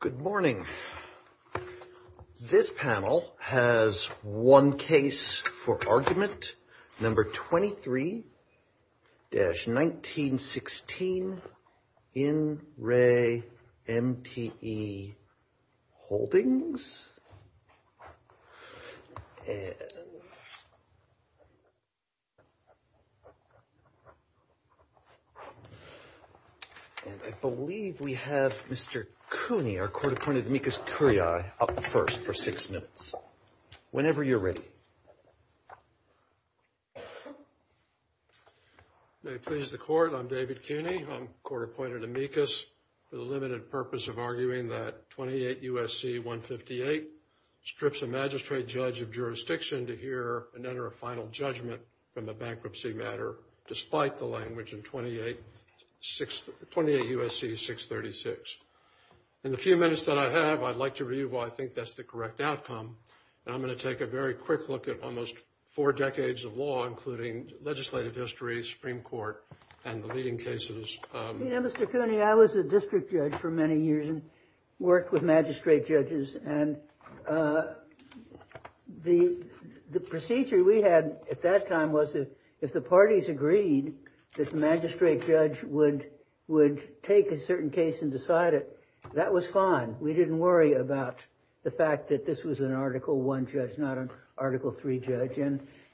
Good morning. This panel has one case for argument number 23-1916 in Re MTE Holdings. And I believe we have Mr. Cooney, our court-appointed amicus curiae, up first for six minutes, whenever you're ready. May it please the court, I'm David Cooney. I'm court-appointed amicus for the limited purpose of arguing that 28 U.S.C. 158 strips a magistrate judge of jurisdiction to hear and enter a final judgment from a bankruptcy matter, despite the language in 28 U.S.C. 636. In the few minutes that I have, I'd like to review why I think that's the correct outcome, and I'm going to take a very quick look at almost four decades of law, including legislative history, Supreme Court, and the leading cases. You know, Mr. Cooney, I was a district judge for many years and worked with magistrate judges, and the procedure we had at that time was if the parties agreed that the magistrate judge would take a certain case and decide it, that was fine. We didn't worry about the fact that this was an Article I judge, not an Article III judge,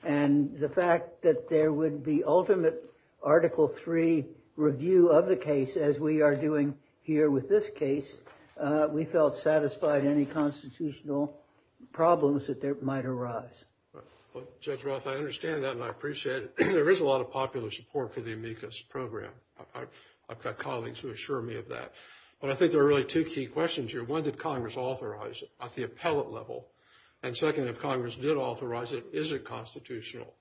and the fact that there would be ultimate Article III review of the case, as we are doing here with this case, we felt satisfied any constitutional problems that might arise. Well, Judge Roth, I understand that and I appreciate it. There is a lot of popular support for the amicus program. I've got colleagues who assure me of that. But I think there are really two key questions here. One, did Congress authorize it at the appellate level? And second, if Congress did authorize it, is it constitutional?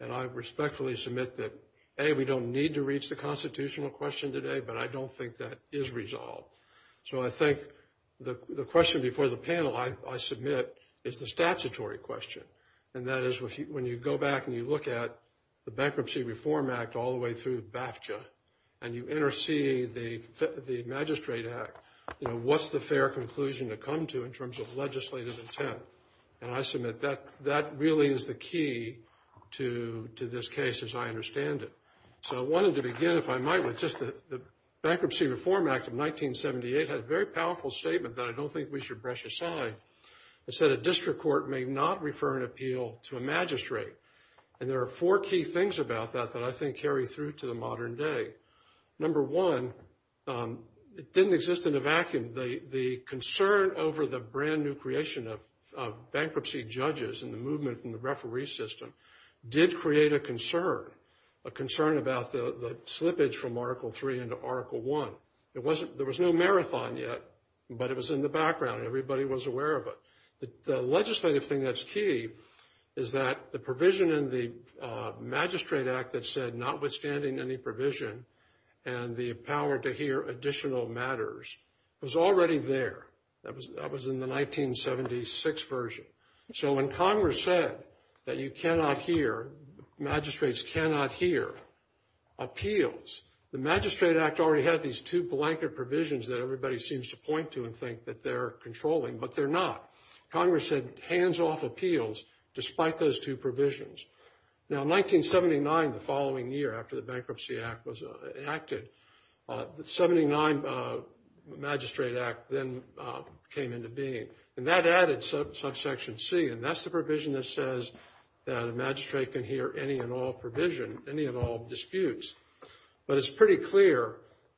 And I respectfully submit that, A, we don't need to reach the constitutional question today, but I don't think that is resolved. So I think the question before the panel I submit is the statutory question, and that is when you go back and you look at the Bankruptcy Reform Act all the way through BAFTA and you intercede the Magistrate Act, you know, what's the fair conclusion to come to in terms of legislative intent? And I submit that that really is the key to this case as I understand it. So I wanted to begin, if I might, with just the Bankruptcy Reform Act of 1978 had a very powerful statement that I don't think we should brush aside. It said a district court may not refer an appeal to a magistrate. And there are four key things about that that I think carry through to the modern day. Number one, it didn't exist in a vacuum. The concern over the brand new creation of bankruptcy judges and the movement in the referee system did create a concern, a concern about the slippage from Article III into Article I. There was no marathon yet, but it was in the background. Everybody was aware of it. The legislative thing that's key is that the provision in the Magistrate Act that said notwithstanding any provision and the power to hear additional matters was already there. That was in the 1976 version. So when Congress said that you cannot hear, magistrates cannot hear appeals, the Magistrate Act already had these two blanket provisions that everybody seems to point to and think that they're controlling, but they're not. Congress had hands-off appeals despite those two provisions. Now in 1979, the following year after the Bankruptcy Act was enacted, the 79 Magistrate Act then came into being. And that added subsection C, and that's the provision that says that a magistrate can hear any and all provision, any and all disputes. But it's pretty clear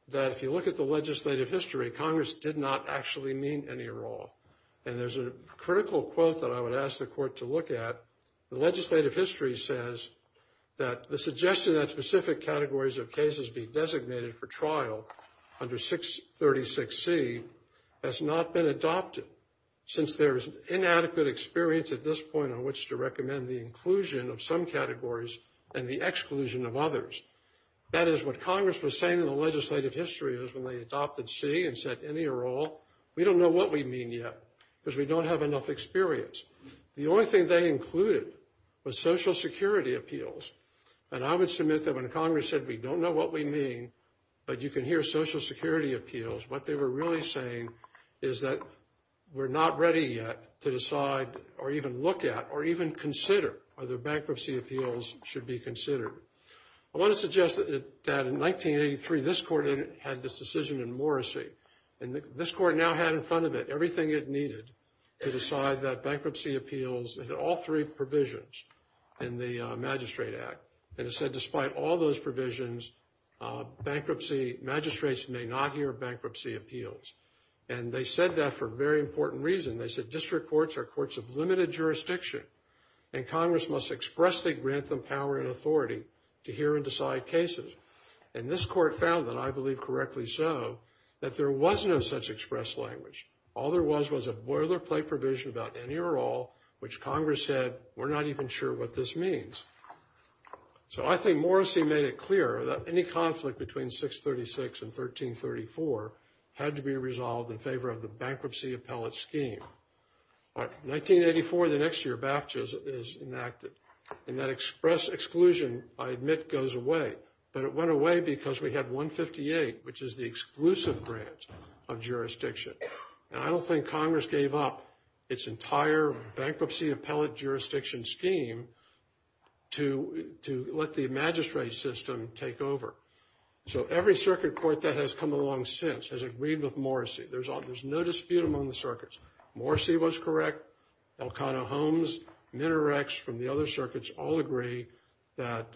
that if you look at the legislative history, Congress did not actually mean any or all. And there's a critical quote that I would ask the Court to look at. The legislative history says that the suggestion that specific categories of cases be designated for trial under 636C has not been adopted since there is inadequate experience at this point on which to recommend the inclusion of some categories and the exclusion of others. That is what Congress was saying in the legislative history is when they adopted C and said any or all. We don't know what we mean yet because we don't have enough experience. The only thing they included was Social Security appeals. And I would submit that when Congress said we don't know what we mean, but you can hear Social Security appeals, what they were really saying is that we're not ready yet to decide or even look at or even consider whether bankruptcy appeals should be considered. I want to suggest that in 1983, this Court had this decision in Morrissey. And this Court now had in front of it everything it needed to decide that bankruptcy appeals had all three provisions in the Magistrate Act. And it said despite all those provisions, bankruptcy magistrates may not hear bankruptcy appeals. And they said that for a very important reason. They said district courts are courts of limited jurisdiction and Congress must expressly grant them power and authority to hear and decide cases. And this Court found, and I believe correctly so, that there was no such express language. All there was was a boilerplate provision about any or all which Congress said we're not even sure what this means. So I think Morrissey made it clear that any conflict between 636 and 1334 had to be resolved in favor of the bankruptcy appellate scheme. In 1984, the next year, BAFTA is enacted. And that express exclusion, I admit, goes away. But it went away because we had 158, which is the exclusive grant of jurisdiction. And I don't think Congress gave up its entire bankruptcy appellate jurisdiction scheme to let the magistrate system take over. So every circuit court that has come along since has agreed with Morrissey. There's no dispute among the circuits. Morrissey was correct. Elcano Holmes, Minarets from the other circuits all agree that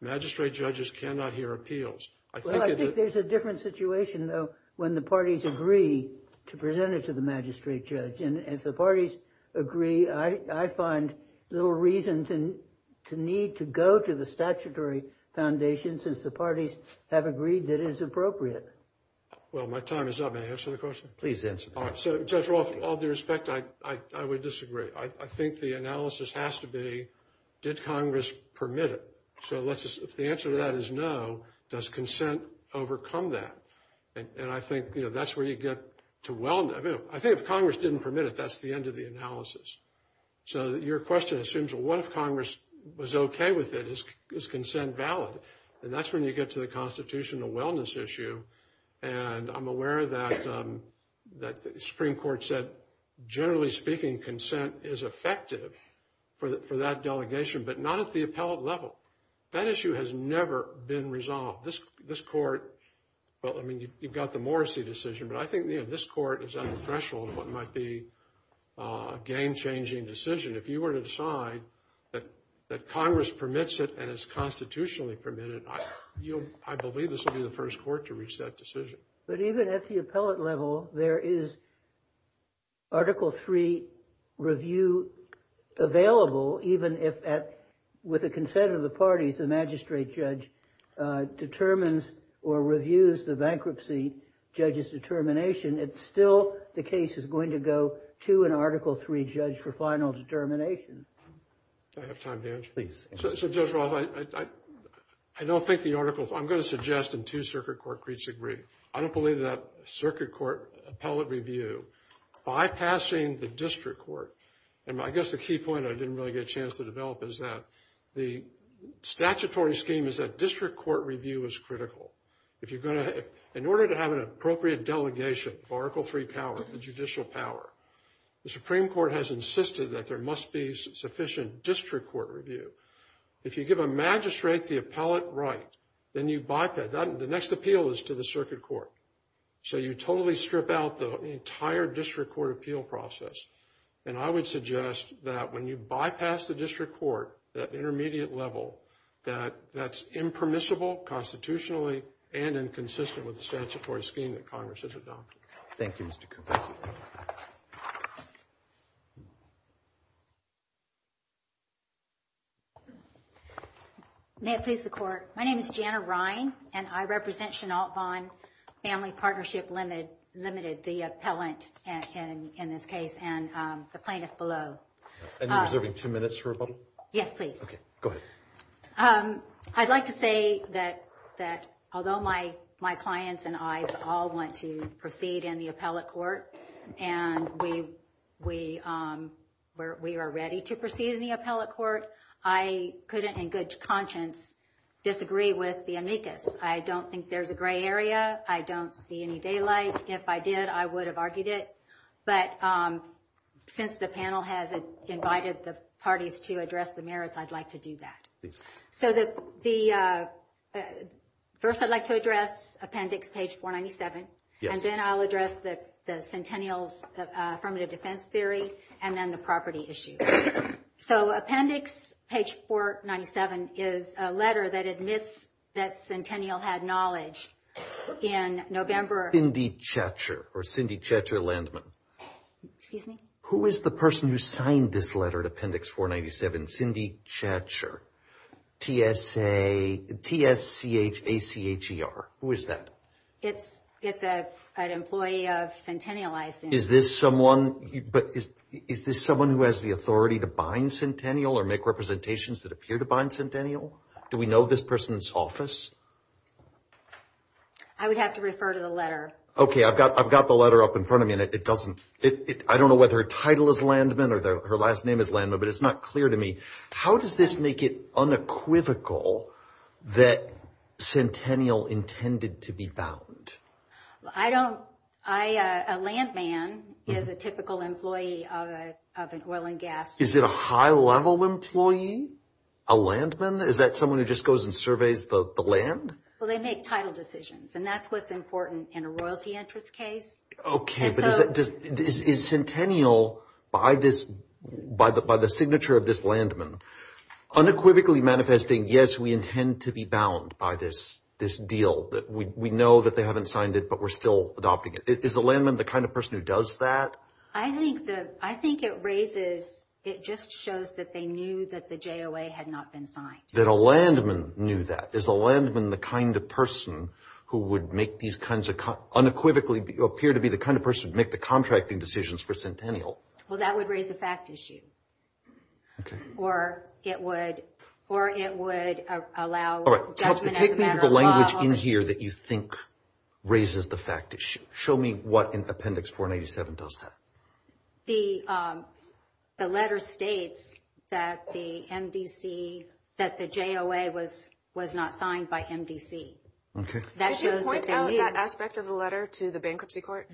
magistrate judges cannot hear appeals. Well, I think there's a different situation, though, when the parties agree to present it to the magistrate judge. And as the parties agree, I find little reason to need to go to the statutory foundation since the parties have agreed that it is appropriate. Well, my time is up. May I answer the question? Please answer. All right. So, Judge Roth, all due respect, I would disagree. I think the analysis has to be, did Congress permit it? So if the answer to that is no, does consent overcome that? And I think that's where you get to wellness. I think if Congress didn't permit it, that's the end of the analysis. So your question assumes, well, what if Congress was okay with it? Is consent valid? And that's when you get to the constitutional wellness issue. And I'm aware that the Supreme Court said, generally speaking, consent is effective for that delegation, but not at the appellate level. That issue has never been resolved. This court, well, I mean, you've got the Morrissey decision, but I think this court is on the threshold of what might be a game-changing decision. If you were to decide that Congress permits it and is constitutionally permitted, I believe this will be the first court to reach that decision. But even at the appellate level, there is Article III review available, even if, with the consent of the parties, the magistrate judge determines or reviews the bankruptcy judge's determination. It's still, the case is going to go to an Article III judge for final determination. Do I have time to answer? Please. So Judge Roth, I don't think the articles I'm going to suggest in two circuit court creeds agree. I don't believe that circuit court appellate review, bypassing the district court, and I guess the key point I didn't really get a chance to develop is that the statutory scheme is that district court review is critical. If you're going to, in order to have an appropriate delegation of Article III power, the judicial power, the Supreme Court has insisted that there must be sufficient district court review. If you give a magistrate the appellate right, then you bypass, the next appeal is to the circuit court. So you totally strip out the entire district court appeal process. And I would suggest that when you bypass the district court, that intermediate level, that that's impermissible constitutionally and inconsistent with the statutory scheme that Congress has adopted. Thank you, Mr. Cooper. May it please the court. My name is Jana Ryan, and I represent Chenault-Vaughn Family Partnership Limited, the appellant in this case, and the plaintiff below. I'd like to say that although my clients and I all want to proceed in the appellate court, and we are ready to proceed in the appellate court, I couldn't in good conscience disagree with the amicus. I don't think there's a gray area. I don't see any daylight. If I did, I would have argued it. But since the panel has invited the parties to address the merits, I'd like to do that. So first I'd like to address appendix page 497, and then I'll address the Centennial's affirmative defense theory, and then the property issue. So appendix page 497 is a letter that admits that Centennial had knowledge in November. Cindy Chatcher, or Cindy Chatcher Landman. Who is the person who signed this letter to appendix 497? Cindy Chatcher. T-S-C-H-A-C-H-E-R. Who is that? It's an employee of Centennial. Is this someone who has the authority to bind Centennial or make representations that appear to bind Centennial? Do we know this person's office? I would have to refer to the letter. Okay, I've got the letter up in front of me, and I don't know whether her title is Landman or her last name is Landman, but it's not clear to me. How does this make it unequivocal that Centennial intended to be bound? A Landman is a typical employee of an oil and gas company. Is it a high-level employee? A Landman? Is that someone who just goes and surveys the land? Well, they make title decisions, and that's what's important in a royalty interest case. Okay, but is Centennial, by the signature of this Landman, unequivocally manifesting, yes, we intend to be bound by this deal? We know that they haven't signed it, but we're still adopting it. Is the Landman the kind of person who does that? I think it raises, it just shows that they knew that the JOA had not been signed. That a Landman knew that. Is the Landman the kind of person who would make these kinds of, unequivocally appear to be the kind of person who would make the contracting decisions for Centennial? Well, that would raise a fact issue. Okay. Or it would allow judgment as a matter of law. Take me to the language in here that you think raises the fact issue. Show me what Appendix 497 does that. The letter states that the MDC, that the JOA was not signed by MDC. Okay. That shows that they knew. Did you point out that aspect of the letter to the bankruptcy court?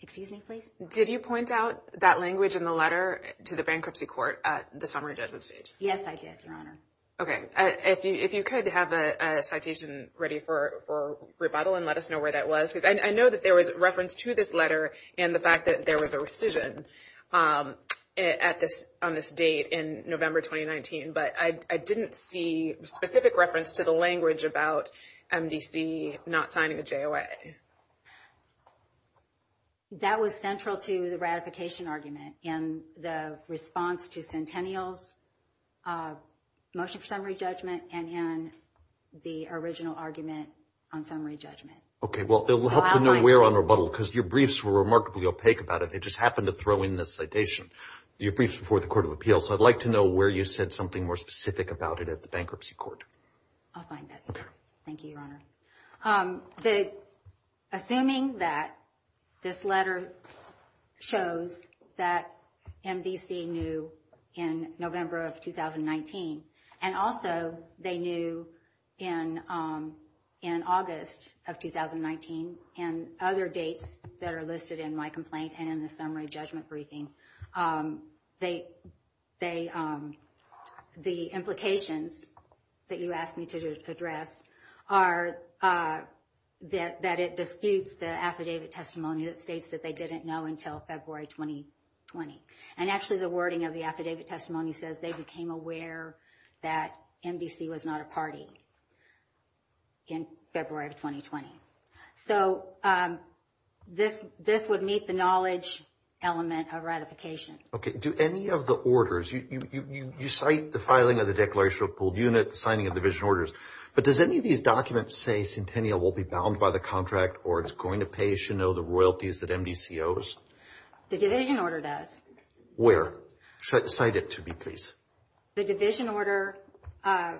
Excuse me, please? Did you point out that language in the letter to the bankruptcy court at the summary judgment stage? Yes, I did, Your Honor. Okay. If you could have a citation ready for rebuttal and let us know where that was. I know that there was reference to this letter and the fact that there was a rescission on this date in November 2019, but I didn't see specific reference to the language about MDC not signing a JOA. That was central to the ratification argument in the response to Centennial's motion for summary judgment and in the original argument on summary judgment. Okay. Well, it will help to know where on rebuttal because your briefs were remarkably opaque about it. They just happened to throw in this citation, your briefs before the court of appeals. So I'd like to know where you said something more specific about it at the bankruptcy court. I'll find that. Okay. Thank you, Your Honor. Assuming that this letter shows that MDC knew in November of 2019, and also they knew in August of 2019 and other dates that are listed in my complaint and in the summary judgment briefing, the implications that you asked me to address are that it disputes the affidavit testimony that states that they didn't know until February 2020. And actually the wording of the affidavit testimony says they became aware that MDC was not a party in February of 2020. So this would meet the knowledge element of ratification. Okay. Do any of the orders, you cite the filing of the declaration of pooled units, signing of division orders, but does any of these documents say Centennial will be bound by the contract or it's going to pay, you know, the royalties that MDC owes? The division order does. Where? Cite it to me, please. The division order.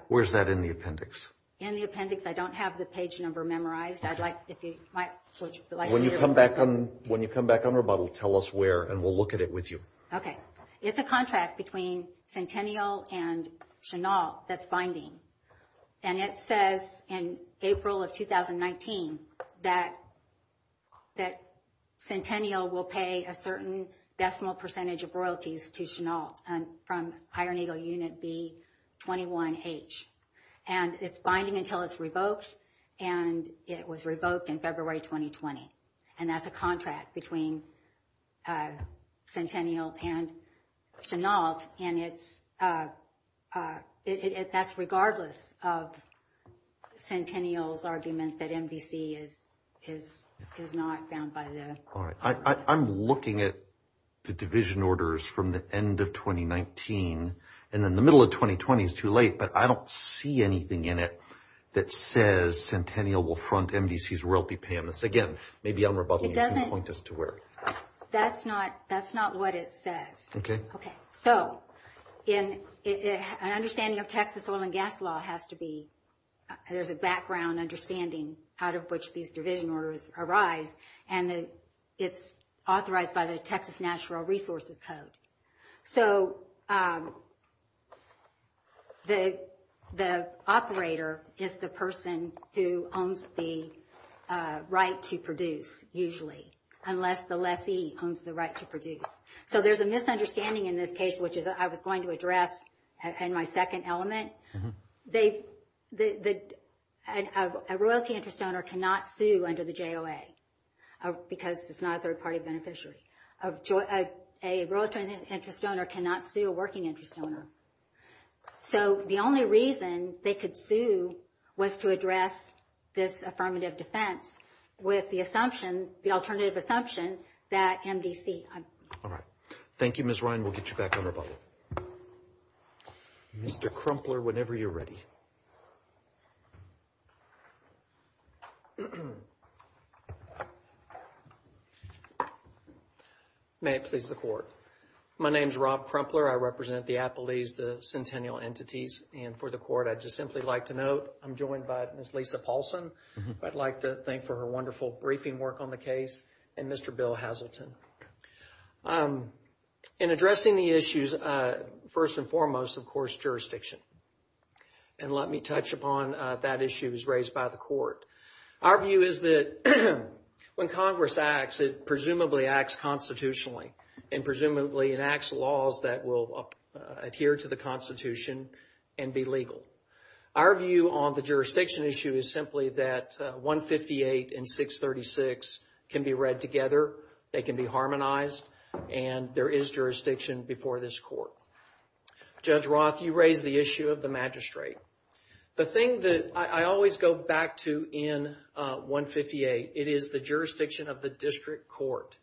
Where is that in the appendix? In the appendix. I don't have the page number memorized. When you come back on rebuttal, tell us where and we'll look at it with you. Okay. It's a contract between Centennial and Chenault that's binding. And it says in April of 2019 that Centennial will pay a certain decimal percentage of royalties to Chenault from iron eagle unit B21H. And it's binding until it's revoked. And it was revoked in February 2020. And that's a contract between Centennial and Chenault. And that's regardless of Centennial's argument that MDC is not bound by the contract. I'm looking at the division orders from the end of 2019. And then the middle of 2020 is too late. But I don't see anything in it that says Centennial will front MDC's royalty payments. Again, maybe on rebuttal you can point us to where. That's not what it says. Okay. So an understanding of Texas oil and gas law has to be there's a background understanding out of which these division orders arise. And it's authorized by the Texas Natural Resources Code. So the operator is the person who owns the right to produce, usually, unless the lessee owns the right to produce. So there's a misunderstanding in this case, which I was going to address in my second element. A royalty interest owner cannot sue under the JOA because it's not a third-party beneficiary. A royalty interest owner cannot sue a working interest owner. So the only reason they could sue was to address this affirmative defense with the assumption, the alternative assumption, that MDC. All right. Thank you, Ms. Ryan. We'll get you back on rebuttal. Mr. Crumpler, whenever you're ready. May it please the Court. My name's Rob Crumpler. I represent the Appellees, the Centennial Entities. And for the Court, I'd just simply like to note I'm joined by Ms. Lisa Paulson. I'd like to thank her for her wonderful briefing work on the case and Mr. Bill Hazleton. In addressing the issues, first and foremost, of course, jurisdiction. And let me touch upon that issue as raised by the Court. Our view is that when Congress acts, it presumably acts constitutionally and presumably enacts laws that will adhere to the Constitution and be legal. Our view on the jurisdiction issue is simply that 158 and 636 can be read together. They can be harmonized. And there is jurisdiction before this Court. Judge Roth, you raised the issue of the magistrate. The thing that I always go back to in 158, it is the jurisdiction of the district court.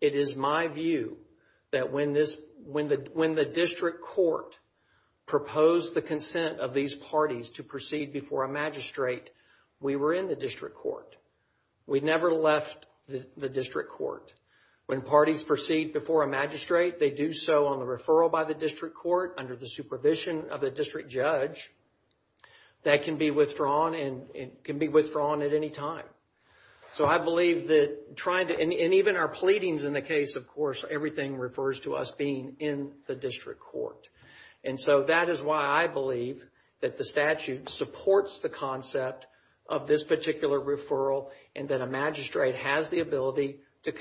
It is my view that when the district court proposed the consent of these parties to proceed before a magistrate, we were in the district court. We never left the district court. When parties proceed before a magistrate, they do so on the referral by the district court under the supervision of the district judge. That can be withdrawn and can be withdrawn at any time. So I believe that trying to, and even our pleadings in the case, of course, everything refers to us being in the district court. And so that is why I believe that the statute supports the concept of this particular referral and that a magistrate has the ability to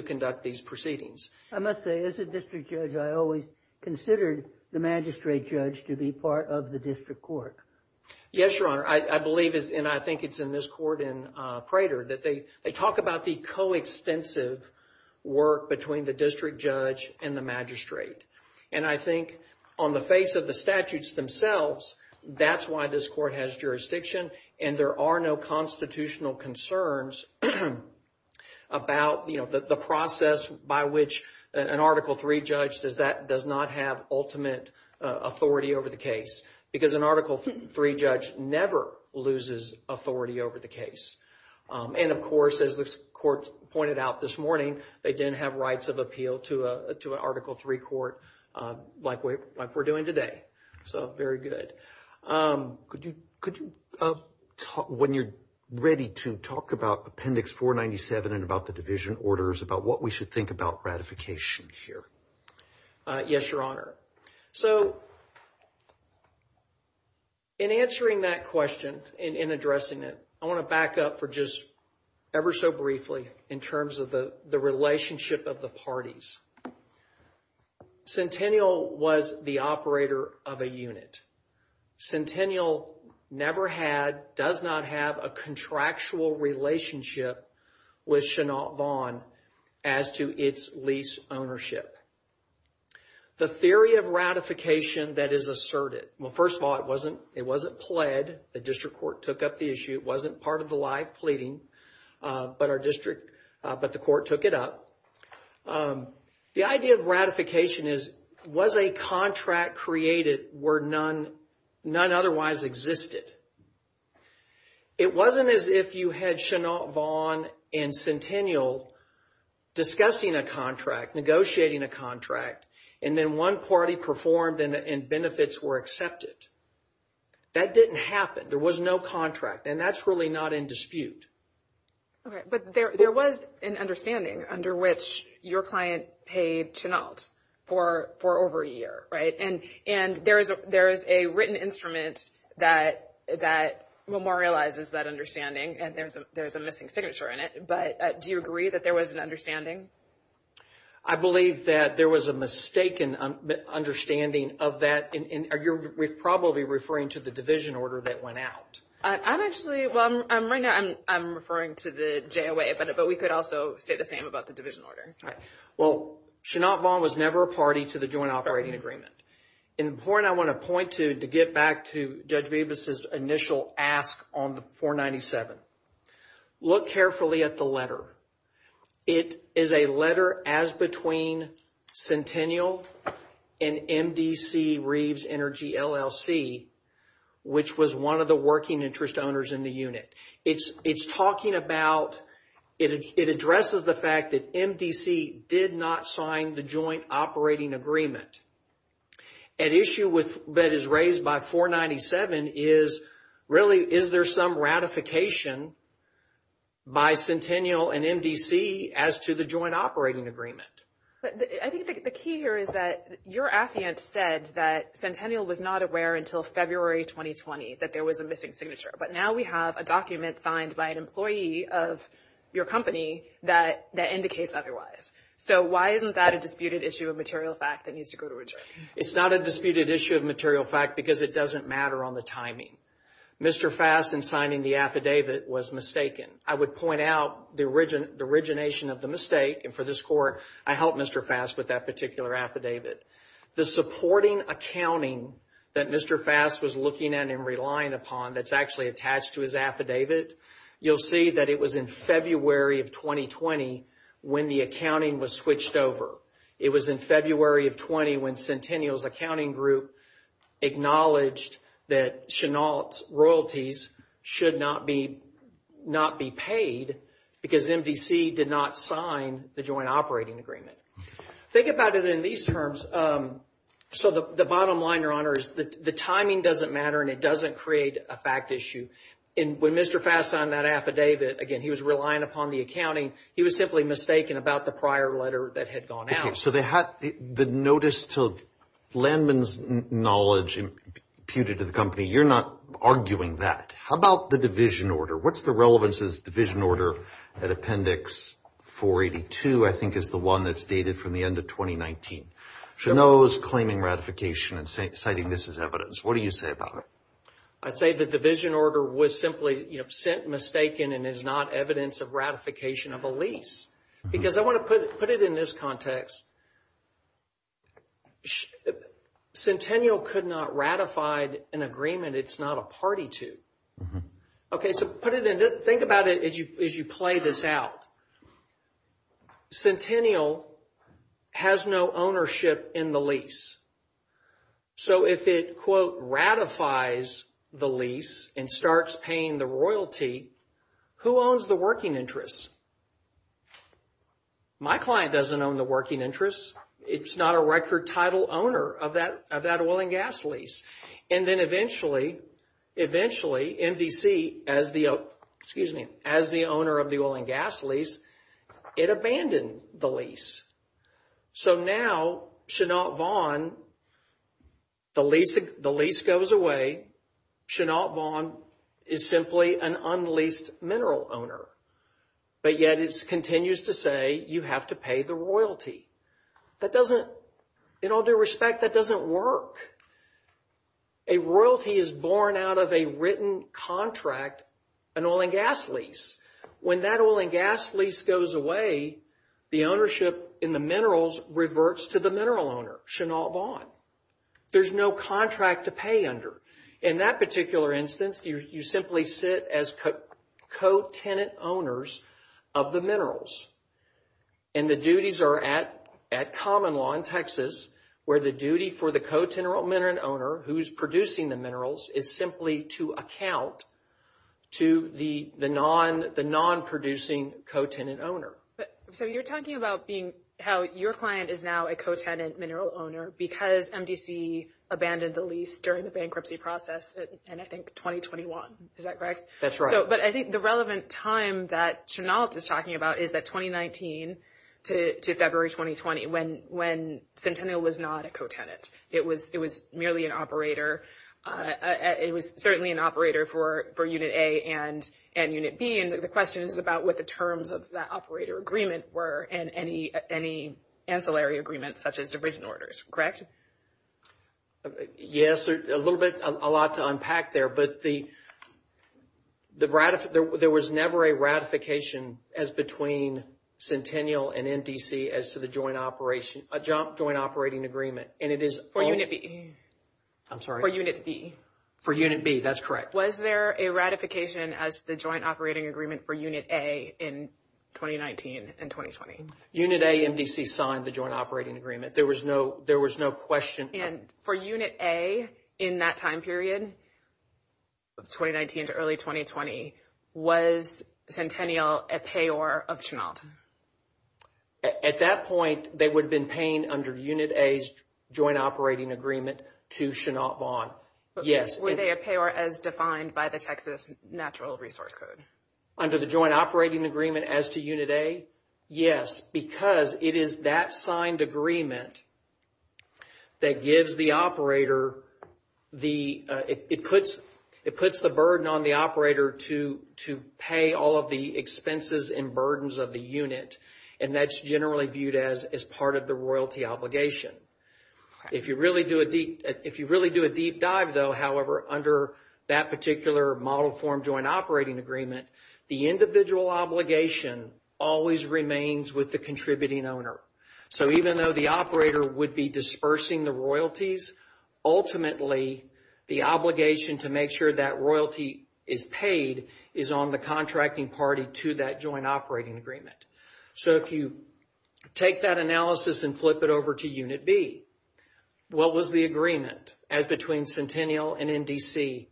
conduct these proceedings. I must say, as a district judge, I always considered the magistrate judge to be part of the district court. Yes, Your Honor. I believe, and I think it's in this court in Prater, that they talk about the coextensive work between the district judge and the magistrate. And I think on the face of the statutes themselves, that's why this court has jurisdiction. And there are no constitutional concerns about the process by which an Article III judge does not have ultimate authority over the case. Because an Article III judge never loses authority over the case. And of course, as this court pointed out this morning, they didn't have rights of appeal to an Article III court like we're doing today. So, very good. Could you, when you're ready to talk about Appendix 497 and about the division orders, about what we should think about ratification here? Yes, Your Honor. So, in answering that question, in addressing it, I want to back up for just ever so briefly in terms of the relationship of the parties. Centennial was the operator of a unit. Centennial never had, does not have, a contractual relationship with Chenault Vaughan as to its lease ownership. The theory of ratification that is asserted. Well, first of all, it wasn't pled. The district court took up the issue. It wasn't part of the live pleading, but the court took it up. The idea of ratification is, was a contract created where none otherwise existed? It wasn't as if you had Chenault Vaughan and Centennial discussing a contract, negotiating a contract, and then one party performed and benefits were accepted. That didn't happen. There was no contract, and that's really not in dispute. Okay, but there was an understanding under which your client paid Chenault for over a year, right? And there is a written instrument that memorializes that understanding, and there's a missing signature in it, but do you agree that there was an understanding? I believe that there was a mistaken understanding of that, and we're probably referring to the division order that went out. I'm actually, well, right now I'm referring to the JOA, but we could also say the same about the division order. Well, Chenault Vaughan was never a party to the joint operating agreement. And the point I want to point to, to get back to Judge Bevis' initial ask on 497, look carefully at the letter. It is a letter as between Centennial and MDC Reeves Energy LLC, which was one of the working interest owners in the unit. It's talking about, it addresses the fact that MDC did not sign the joint operating agreement. An issue that is raised by 497 is, really, is there some ratification by Centennial and MDC as to the joint operating agreement? I think the key here is that your affiant said that Centennial was not aware until February 2020 that there was a missing signature. But now we have a document signed by an employee of your company that indicates otherwise. So why isn't that a disputed issue of material fact that needs to go to a jury? It's not a disputed issue of material fact because it doesn't matter on the timing. Mr. Fass, in signing the affidavit, was mistaken. I would point out the origination of the mistake, and for this court, I helped Mr. Fass with that particular affidavit. The supporting accounting that Mr. Fass was looking at and relying upon that's actually attached to his affidavit, you'll see that it was in February of 2020 when the accounting was switched over. It was in February of 20 when Centennial's accounting group acknowledged that Chenault's royalties should not be paid because MDC did not sign the joint operating agreement. Think about it in these terms. So the bottom line, Your Honor, is that the timing doesn't matter, and it doesn't create a fact issue. When Mr. Fass signed that affidavit, again, he was relying upon the accounting. He was simply mistaken about the prior letter that had gone out. Okay, so the notice to Landman's knowledge imputed to the company, you're not arguing that. How about the division order? What's the relevance of this division order at Appendix 482, I think is the one that's dated from the end of 2019? Chenault's claiming ratification and citing this as evidence. What do you say about it? I'd say the division order was simply sent mistaken and is not evidence of ratification of a lease. Because I want to put it in this context. Centennial could not ratify an agreement it's not a party to. Okay, so think about it as you play this out. Centennial has no ownership in the lease. So if it, quote, ratifies the lease and starts paying the royalty, who owns the working interests? My client doesn't own the working interests. It's not a record title owner of that oil and gas lease. And then eventually, MDC, as the owner of the oil and gas lease, it abandoned the lease. So now, Chenault Vaughn, the lease goes away. Chenault Vaughn is simply an unleased mineral owner. But yet it continues to say you have to pay the royalty. That doesn't, in all due respect, that doesn't work. A royalty is born out of a written contract, an oil and gas lease. When that oil and gas lease goes away, the ownership in the minerals reverts to the mineral owner, Chenault Vaughn. There's no contract to pay under. In that particular instance, you simply sit as co-tenant owners of the minerals. And the duties are at common law in Texas, where the duty for the co-tenant mineral owner, who's producing the minerals, is simply to account to the non-producing co-tenant owner. So you're talking about being, how your client is now a co-tenant mineral owner because MDC abandoned the lease during the bankruptcy process in, I think, 2021. Is that correct? That's right. But I think the relevant time that Chenault is talking about is that 2019 to February 2020, when Centennial was not a co-tenant. It was merely an operator. It was certainly an operator for Unit A and Unit B. And the question is about what the terms of that operator agreement were and any ancillary agreements such as division orders, correct? Yes, a little bit, a lot to unpack there. But there was never a ratification as between Centennial and MDC as to the joint operation, a joint operating agreement. For Unit B. I'm sorry? For Unit B. For Unit B, that's correct. Was there a ratification as the joint operating agreement for Unit A in 2019 and 2020? Unit A, MDC signed the joint operating agreement. There was no question. And for Unit A in that time period, 2019 to early 2020, was Centennial a payor of Chenault? At that point, they would have been paying under Unit A's joint operating agreement to Chenault Bond. Yes. Were they a payor as defined by the Texas Natural Resource Code? Under the joint operating agreement as to Unit A? Yes, because it is that signed agreement that gives the operator the – it puts the burden on the operator to pay all of the expenses and burdens of the unit. And that's generally viewed as part of the royalty obligation. If you really do a deep dive, though, however, under that particular model form joint operating agreement, the individual obligation always remains with the contributing owner. So even though the operator would be dispersing the royalties, ultimately the obligation to make sure that royalty is paid is on the contracting party to that joint operating agreement. So if you take that analysis and flip it over to Unit B, what was the agreement as between Centennial and MDC?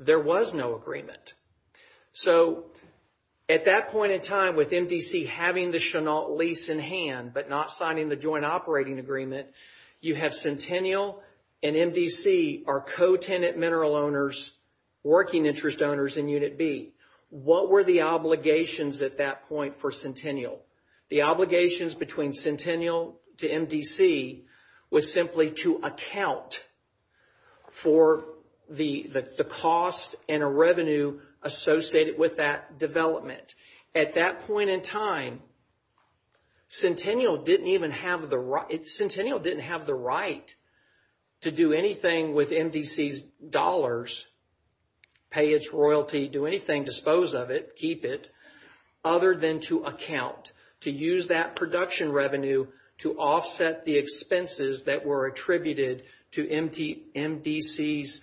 There was no agreement. So at that point in time with MDC having the Chenault lease in hand but not signing the joint operating agreement, you have Centennial and MDC are co-tenant mineral owners, working interest owners in Unit B. What were the obligations at that point for Centennial? The obligations between Centennial to MDC was simply to account for the cost and a revenue associated with that development. At that point in time, Centennial didn't even have the right to do anything with MDC's dollars, pay its royalty, do anything, dispose of it, keep it, other than to account to use that production revenue to offset the expenses that were attributed to MDC's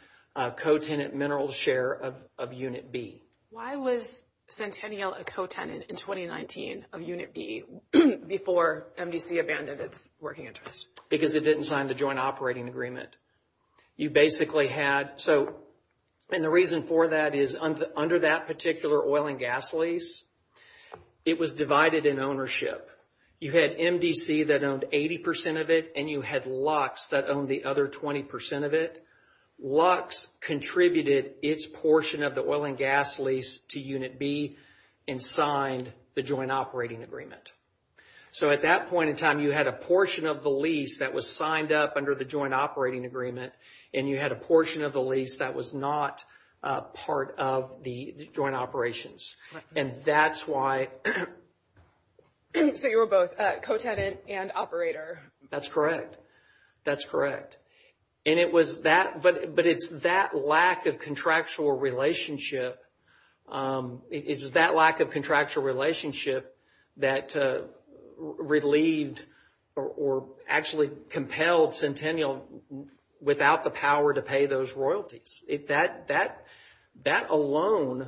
co-tenant mineral share of Unit B. Why was Centennial a co-tenant in 2019 of Unit B before MDC abandoned its working interest? Because it didn't sign the joint operating agreement. You basically had, and the reason for that is under that particular oil and gas lease, it was divided in ownership. You had MDC that owned 80% of it, and you had Lux that owned the other 20% of it. Lux contributed its portion of the oil and gas lease to Unit B and signed the joint operating agreement. So at that point in time, you had a portion of the lease that was signed up under the joint operating agreement, and you had a portion of the lease that was not part of the joint operations. Right. And that's why... So you were both co-tenant and operator. That's correct. That's correct. And it was that, but it's that lack of contractual relationship, it was that lack of contractual relationship that relieved or actually compelled Centennial without the power to pay those royalties. That alone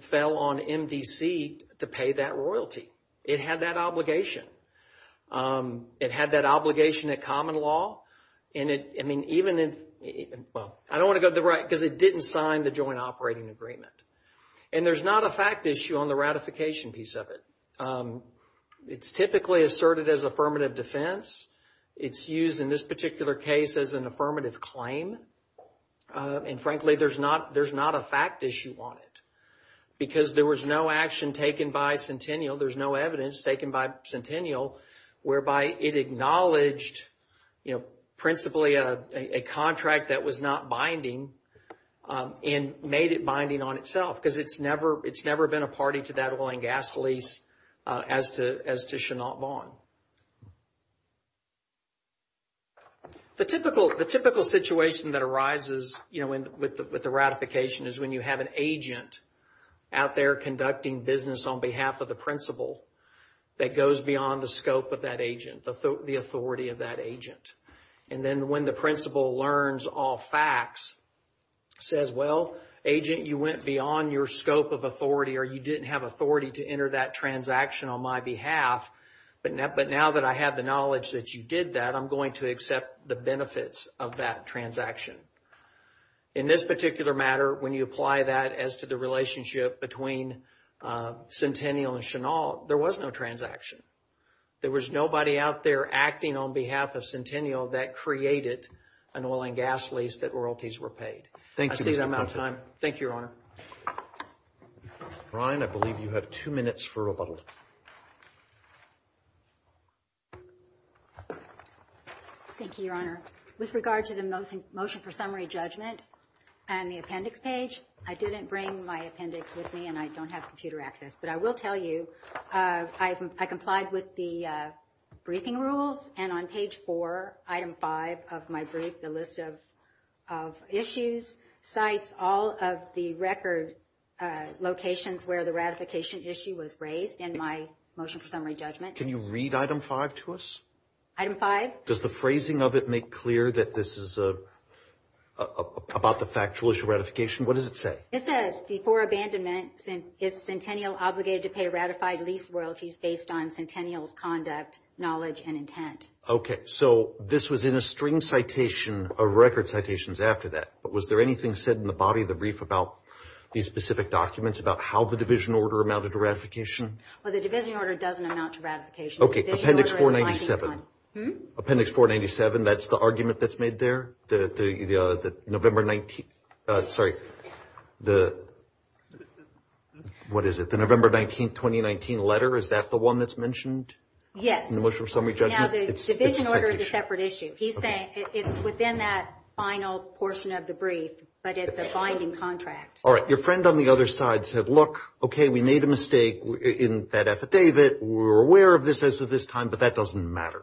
fell on MDC to pay that royalty. It had that obligation. It had that obligation at common law, and it, I mean, even in... Well, I don't want to go to the right, because it didn't sign the joint operating agreement. And there's not a fact issue on the ratification piece of it. It's typically asserted as affirmative defense. It's used in this particular case as an affirmative claim. And frankly, there's not a fact issue on it, because there was no action taken by Centennial, there's no evidence taken by Centennial, whereby it acknowledged, you know, principally a contract that was not binding and made it binding on itself, because it's never been a party to that oil and gas lease as to Chenault Vaughan. The typical situation that arises, you know, with the ratification is when you have an agent out there conducting business on behalf of the principal that goes beyond the scope of that agent, the authority of that agent. And then when the principal learns all facts, says, well, agent, you went beyond your scope of authority or you didn't have authority to enter that transaction on my behalf, but now that I have the knowledge that you did that, I'm going to accept the benefits of that transaction. In this particular matter, when you apply that as to the relationship between Centennial and Chenault, there was no transaction. There was nobody out there acting on behalf of Centennial that created an oil and gas lease that royalties were paid. I see that I'm out of time. Thank you, Your Honor. Brian, I believe you have two minutes for rebuttal. Thank you, Your Honor. With regard to the motion for summary judgment and the appendix page, I didn't bring my appendix with me and I don't have computer access. But I will tell you, I complied with the briefing rules, and on page 4, item 5 of my brief, the list of issues, cites all of the record locations where the ratification issue was raised in my motion for summary judgment. Can you read item 5 to us? Item 5? Does the phrasing of it make clear that this is about the factual issue ratification? What does it say? It says, before abandonment, is Centennial obligated to pay ratified lease royalties based on Centennial's conduct, knowledge, and intent? Okay, so this was in a string citation of record citations after that. But was there anything said in the body of the brief about these specific documents, about how the division order amounted to ratification? Well, the division order doesn't amount to ratification. Okay, appendix 497. Hmm? Appendix 497, that's the argument that's made there? The November 19th, sorry, the, what is it? The November 19th, 2019 letter, is that the one that's mentioned? Yes. In the motion for summary judgment? Now, the division order is a separate issue. He's saying it's within that final portion of the brief, but it's a binding contract. Your friend on the other side said, look, okay, we made a mistake in that affidavit. We're aware of this as of this time, but that doesn't matter,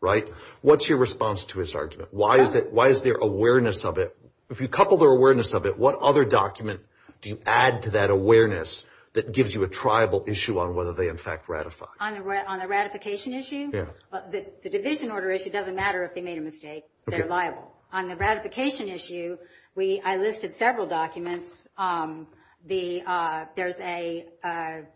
right? What's your response to his argument? Why is there awareness of it? If you couple their awareness of it, what other document do you add to that awareness that gives you a triable issue on whether they, in fact, ratify? On the ratification issue? Yeah. Well, the division order issue doesn't matter if they made a mistake. They're liable. On the ratification issue, we, I listed several documents. The, there's a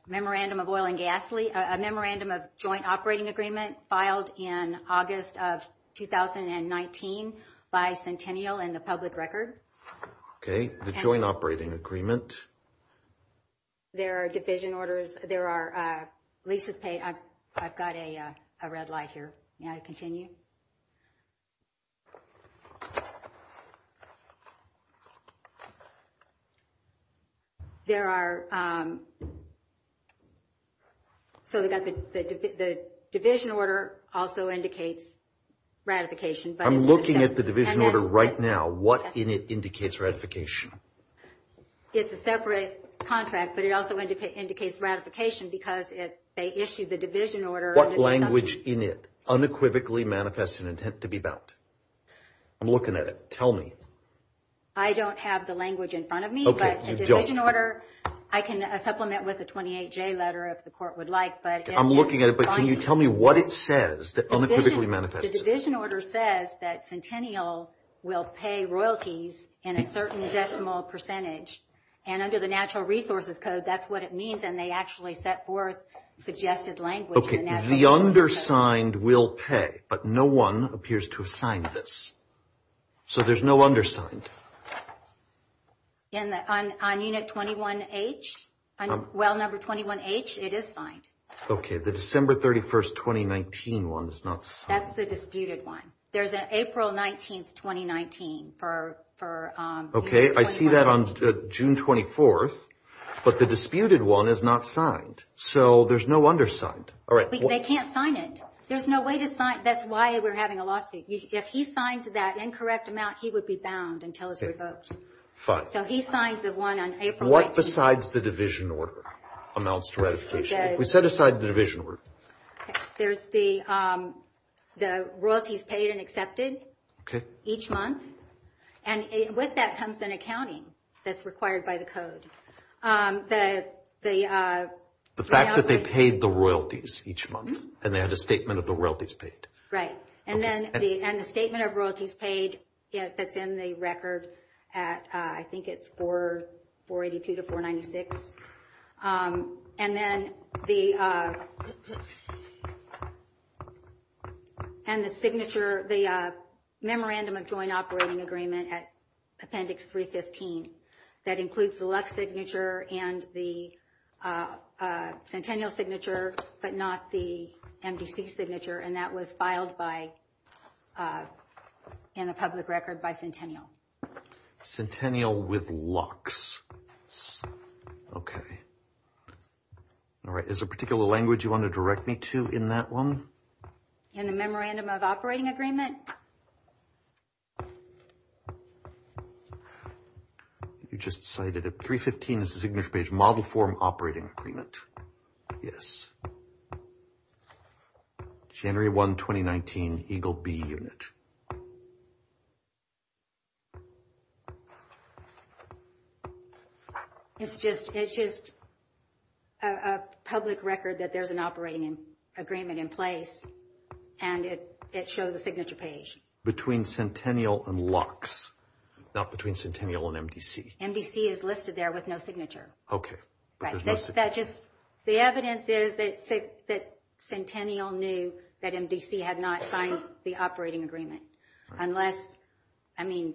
memorandum of oil and gasoline, a memorandum of joint operating agreement, filed in August of 2019 by Centennial and the public record. Okay. The joint operating agreement. There are division orders. There are leases paid. I've got a red light here. May I continue? There are, so we've got the division order also indicates ratification. I'm looking at the division order right now. What in it indicates ratification? It's a separate contract, but it also indicates ratification because they issued the division order. What language in it unequivocally manifests an intent to be bound? I'm looking at it. Tell me. I don't have the language in front of me. Okay, you don't. But the division order, I can supplement with a 28-J letter if the court would like. I'm looking at it, but can you tell me what it says that unequivocally manifests it? The division order says that Centennial will pay royalties in a certain decimal percentage, and under the Natural Resources Code, that's what it means, and they actually set forth suggested language in the Natural Resources Code. Okay, the undersigned will pay, but no one appears to have signed this. So there's no undersigned. On unit 21H, well number 21H, it is signed. Okay, the December 31st, 2019 one is not signed. That's the disputed one. There's an April 19th, 2019 for unit 21H. Okay, I see that on June 24th, but the disputed one is not signed. So there's no undersigned. They can't sign it. There's no way to sign it. That's why we're having a lawsuit. If he signed that incorrect amount, he would be bound until it's revoked. Okay, fine. So he signed the one on April 19th. What besides the division order amounts to ratification? If we set aside the division order. There's the royalties paid and accepted each month, and with that comes an accounting that's required by the code. The fact that they paid the royalties each month and they had a statement of the royalties paid. Right, and the statement of royalties paid fits in the record at, I think it's 482 to 496. And then the memorandum of joint operating agreement at Appendix 315. That includes the Lux signature and the Centennial signature, but not the MDC signature, and that was filed in the public record by Centennial. Centennial with Lux. Okay. All right. Is there a particular language you want to direct me to in that one? In the memorandum of operating agreement? You just cited it. 315 is the signature page. Model form operating agreement. Yes. January 1, 2019, Eagle B unit. It's just a public record that there's an operating agreement in place, and it shows a signature page. Between Centennial and Lux, not between Centennial and MDC. MDC is listed there with no signature. Okay. The evidence is that Centennial knew that MDC had not signed the operating agreement, unless, I mean,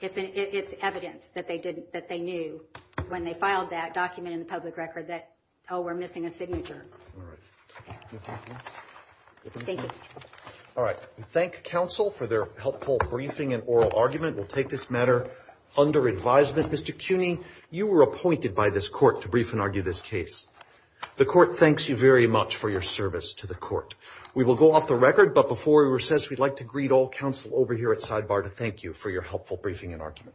it's evidence that they knew when they filed that document in the public record that, oh, we're missing a signature. Thank you. All right. We thank counsel for their helpful briefing and oral argument. We'll take this matter under advisement. Mr. Cuny, you were appointed by this court to brief and argue this case. The court thanks you very much for your service to the court. We will go off the record, but before we recess, we'd like to greet all counsel over here at sidebar to thank you for your helpful briefing and argument. Thank you.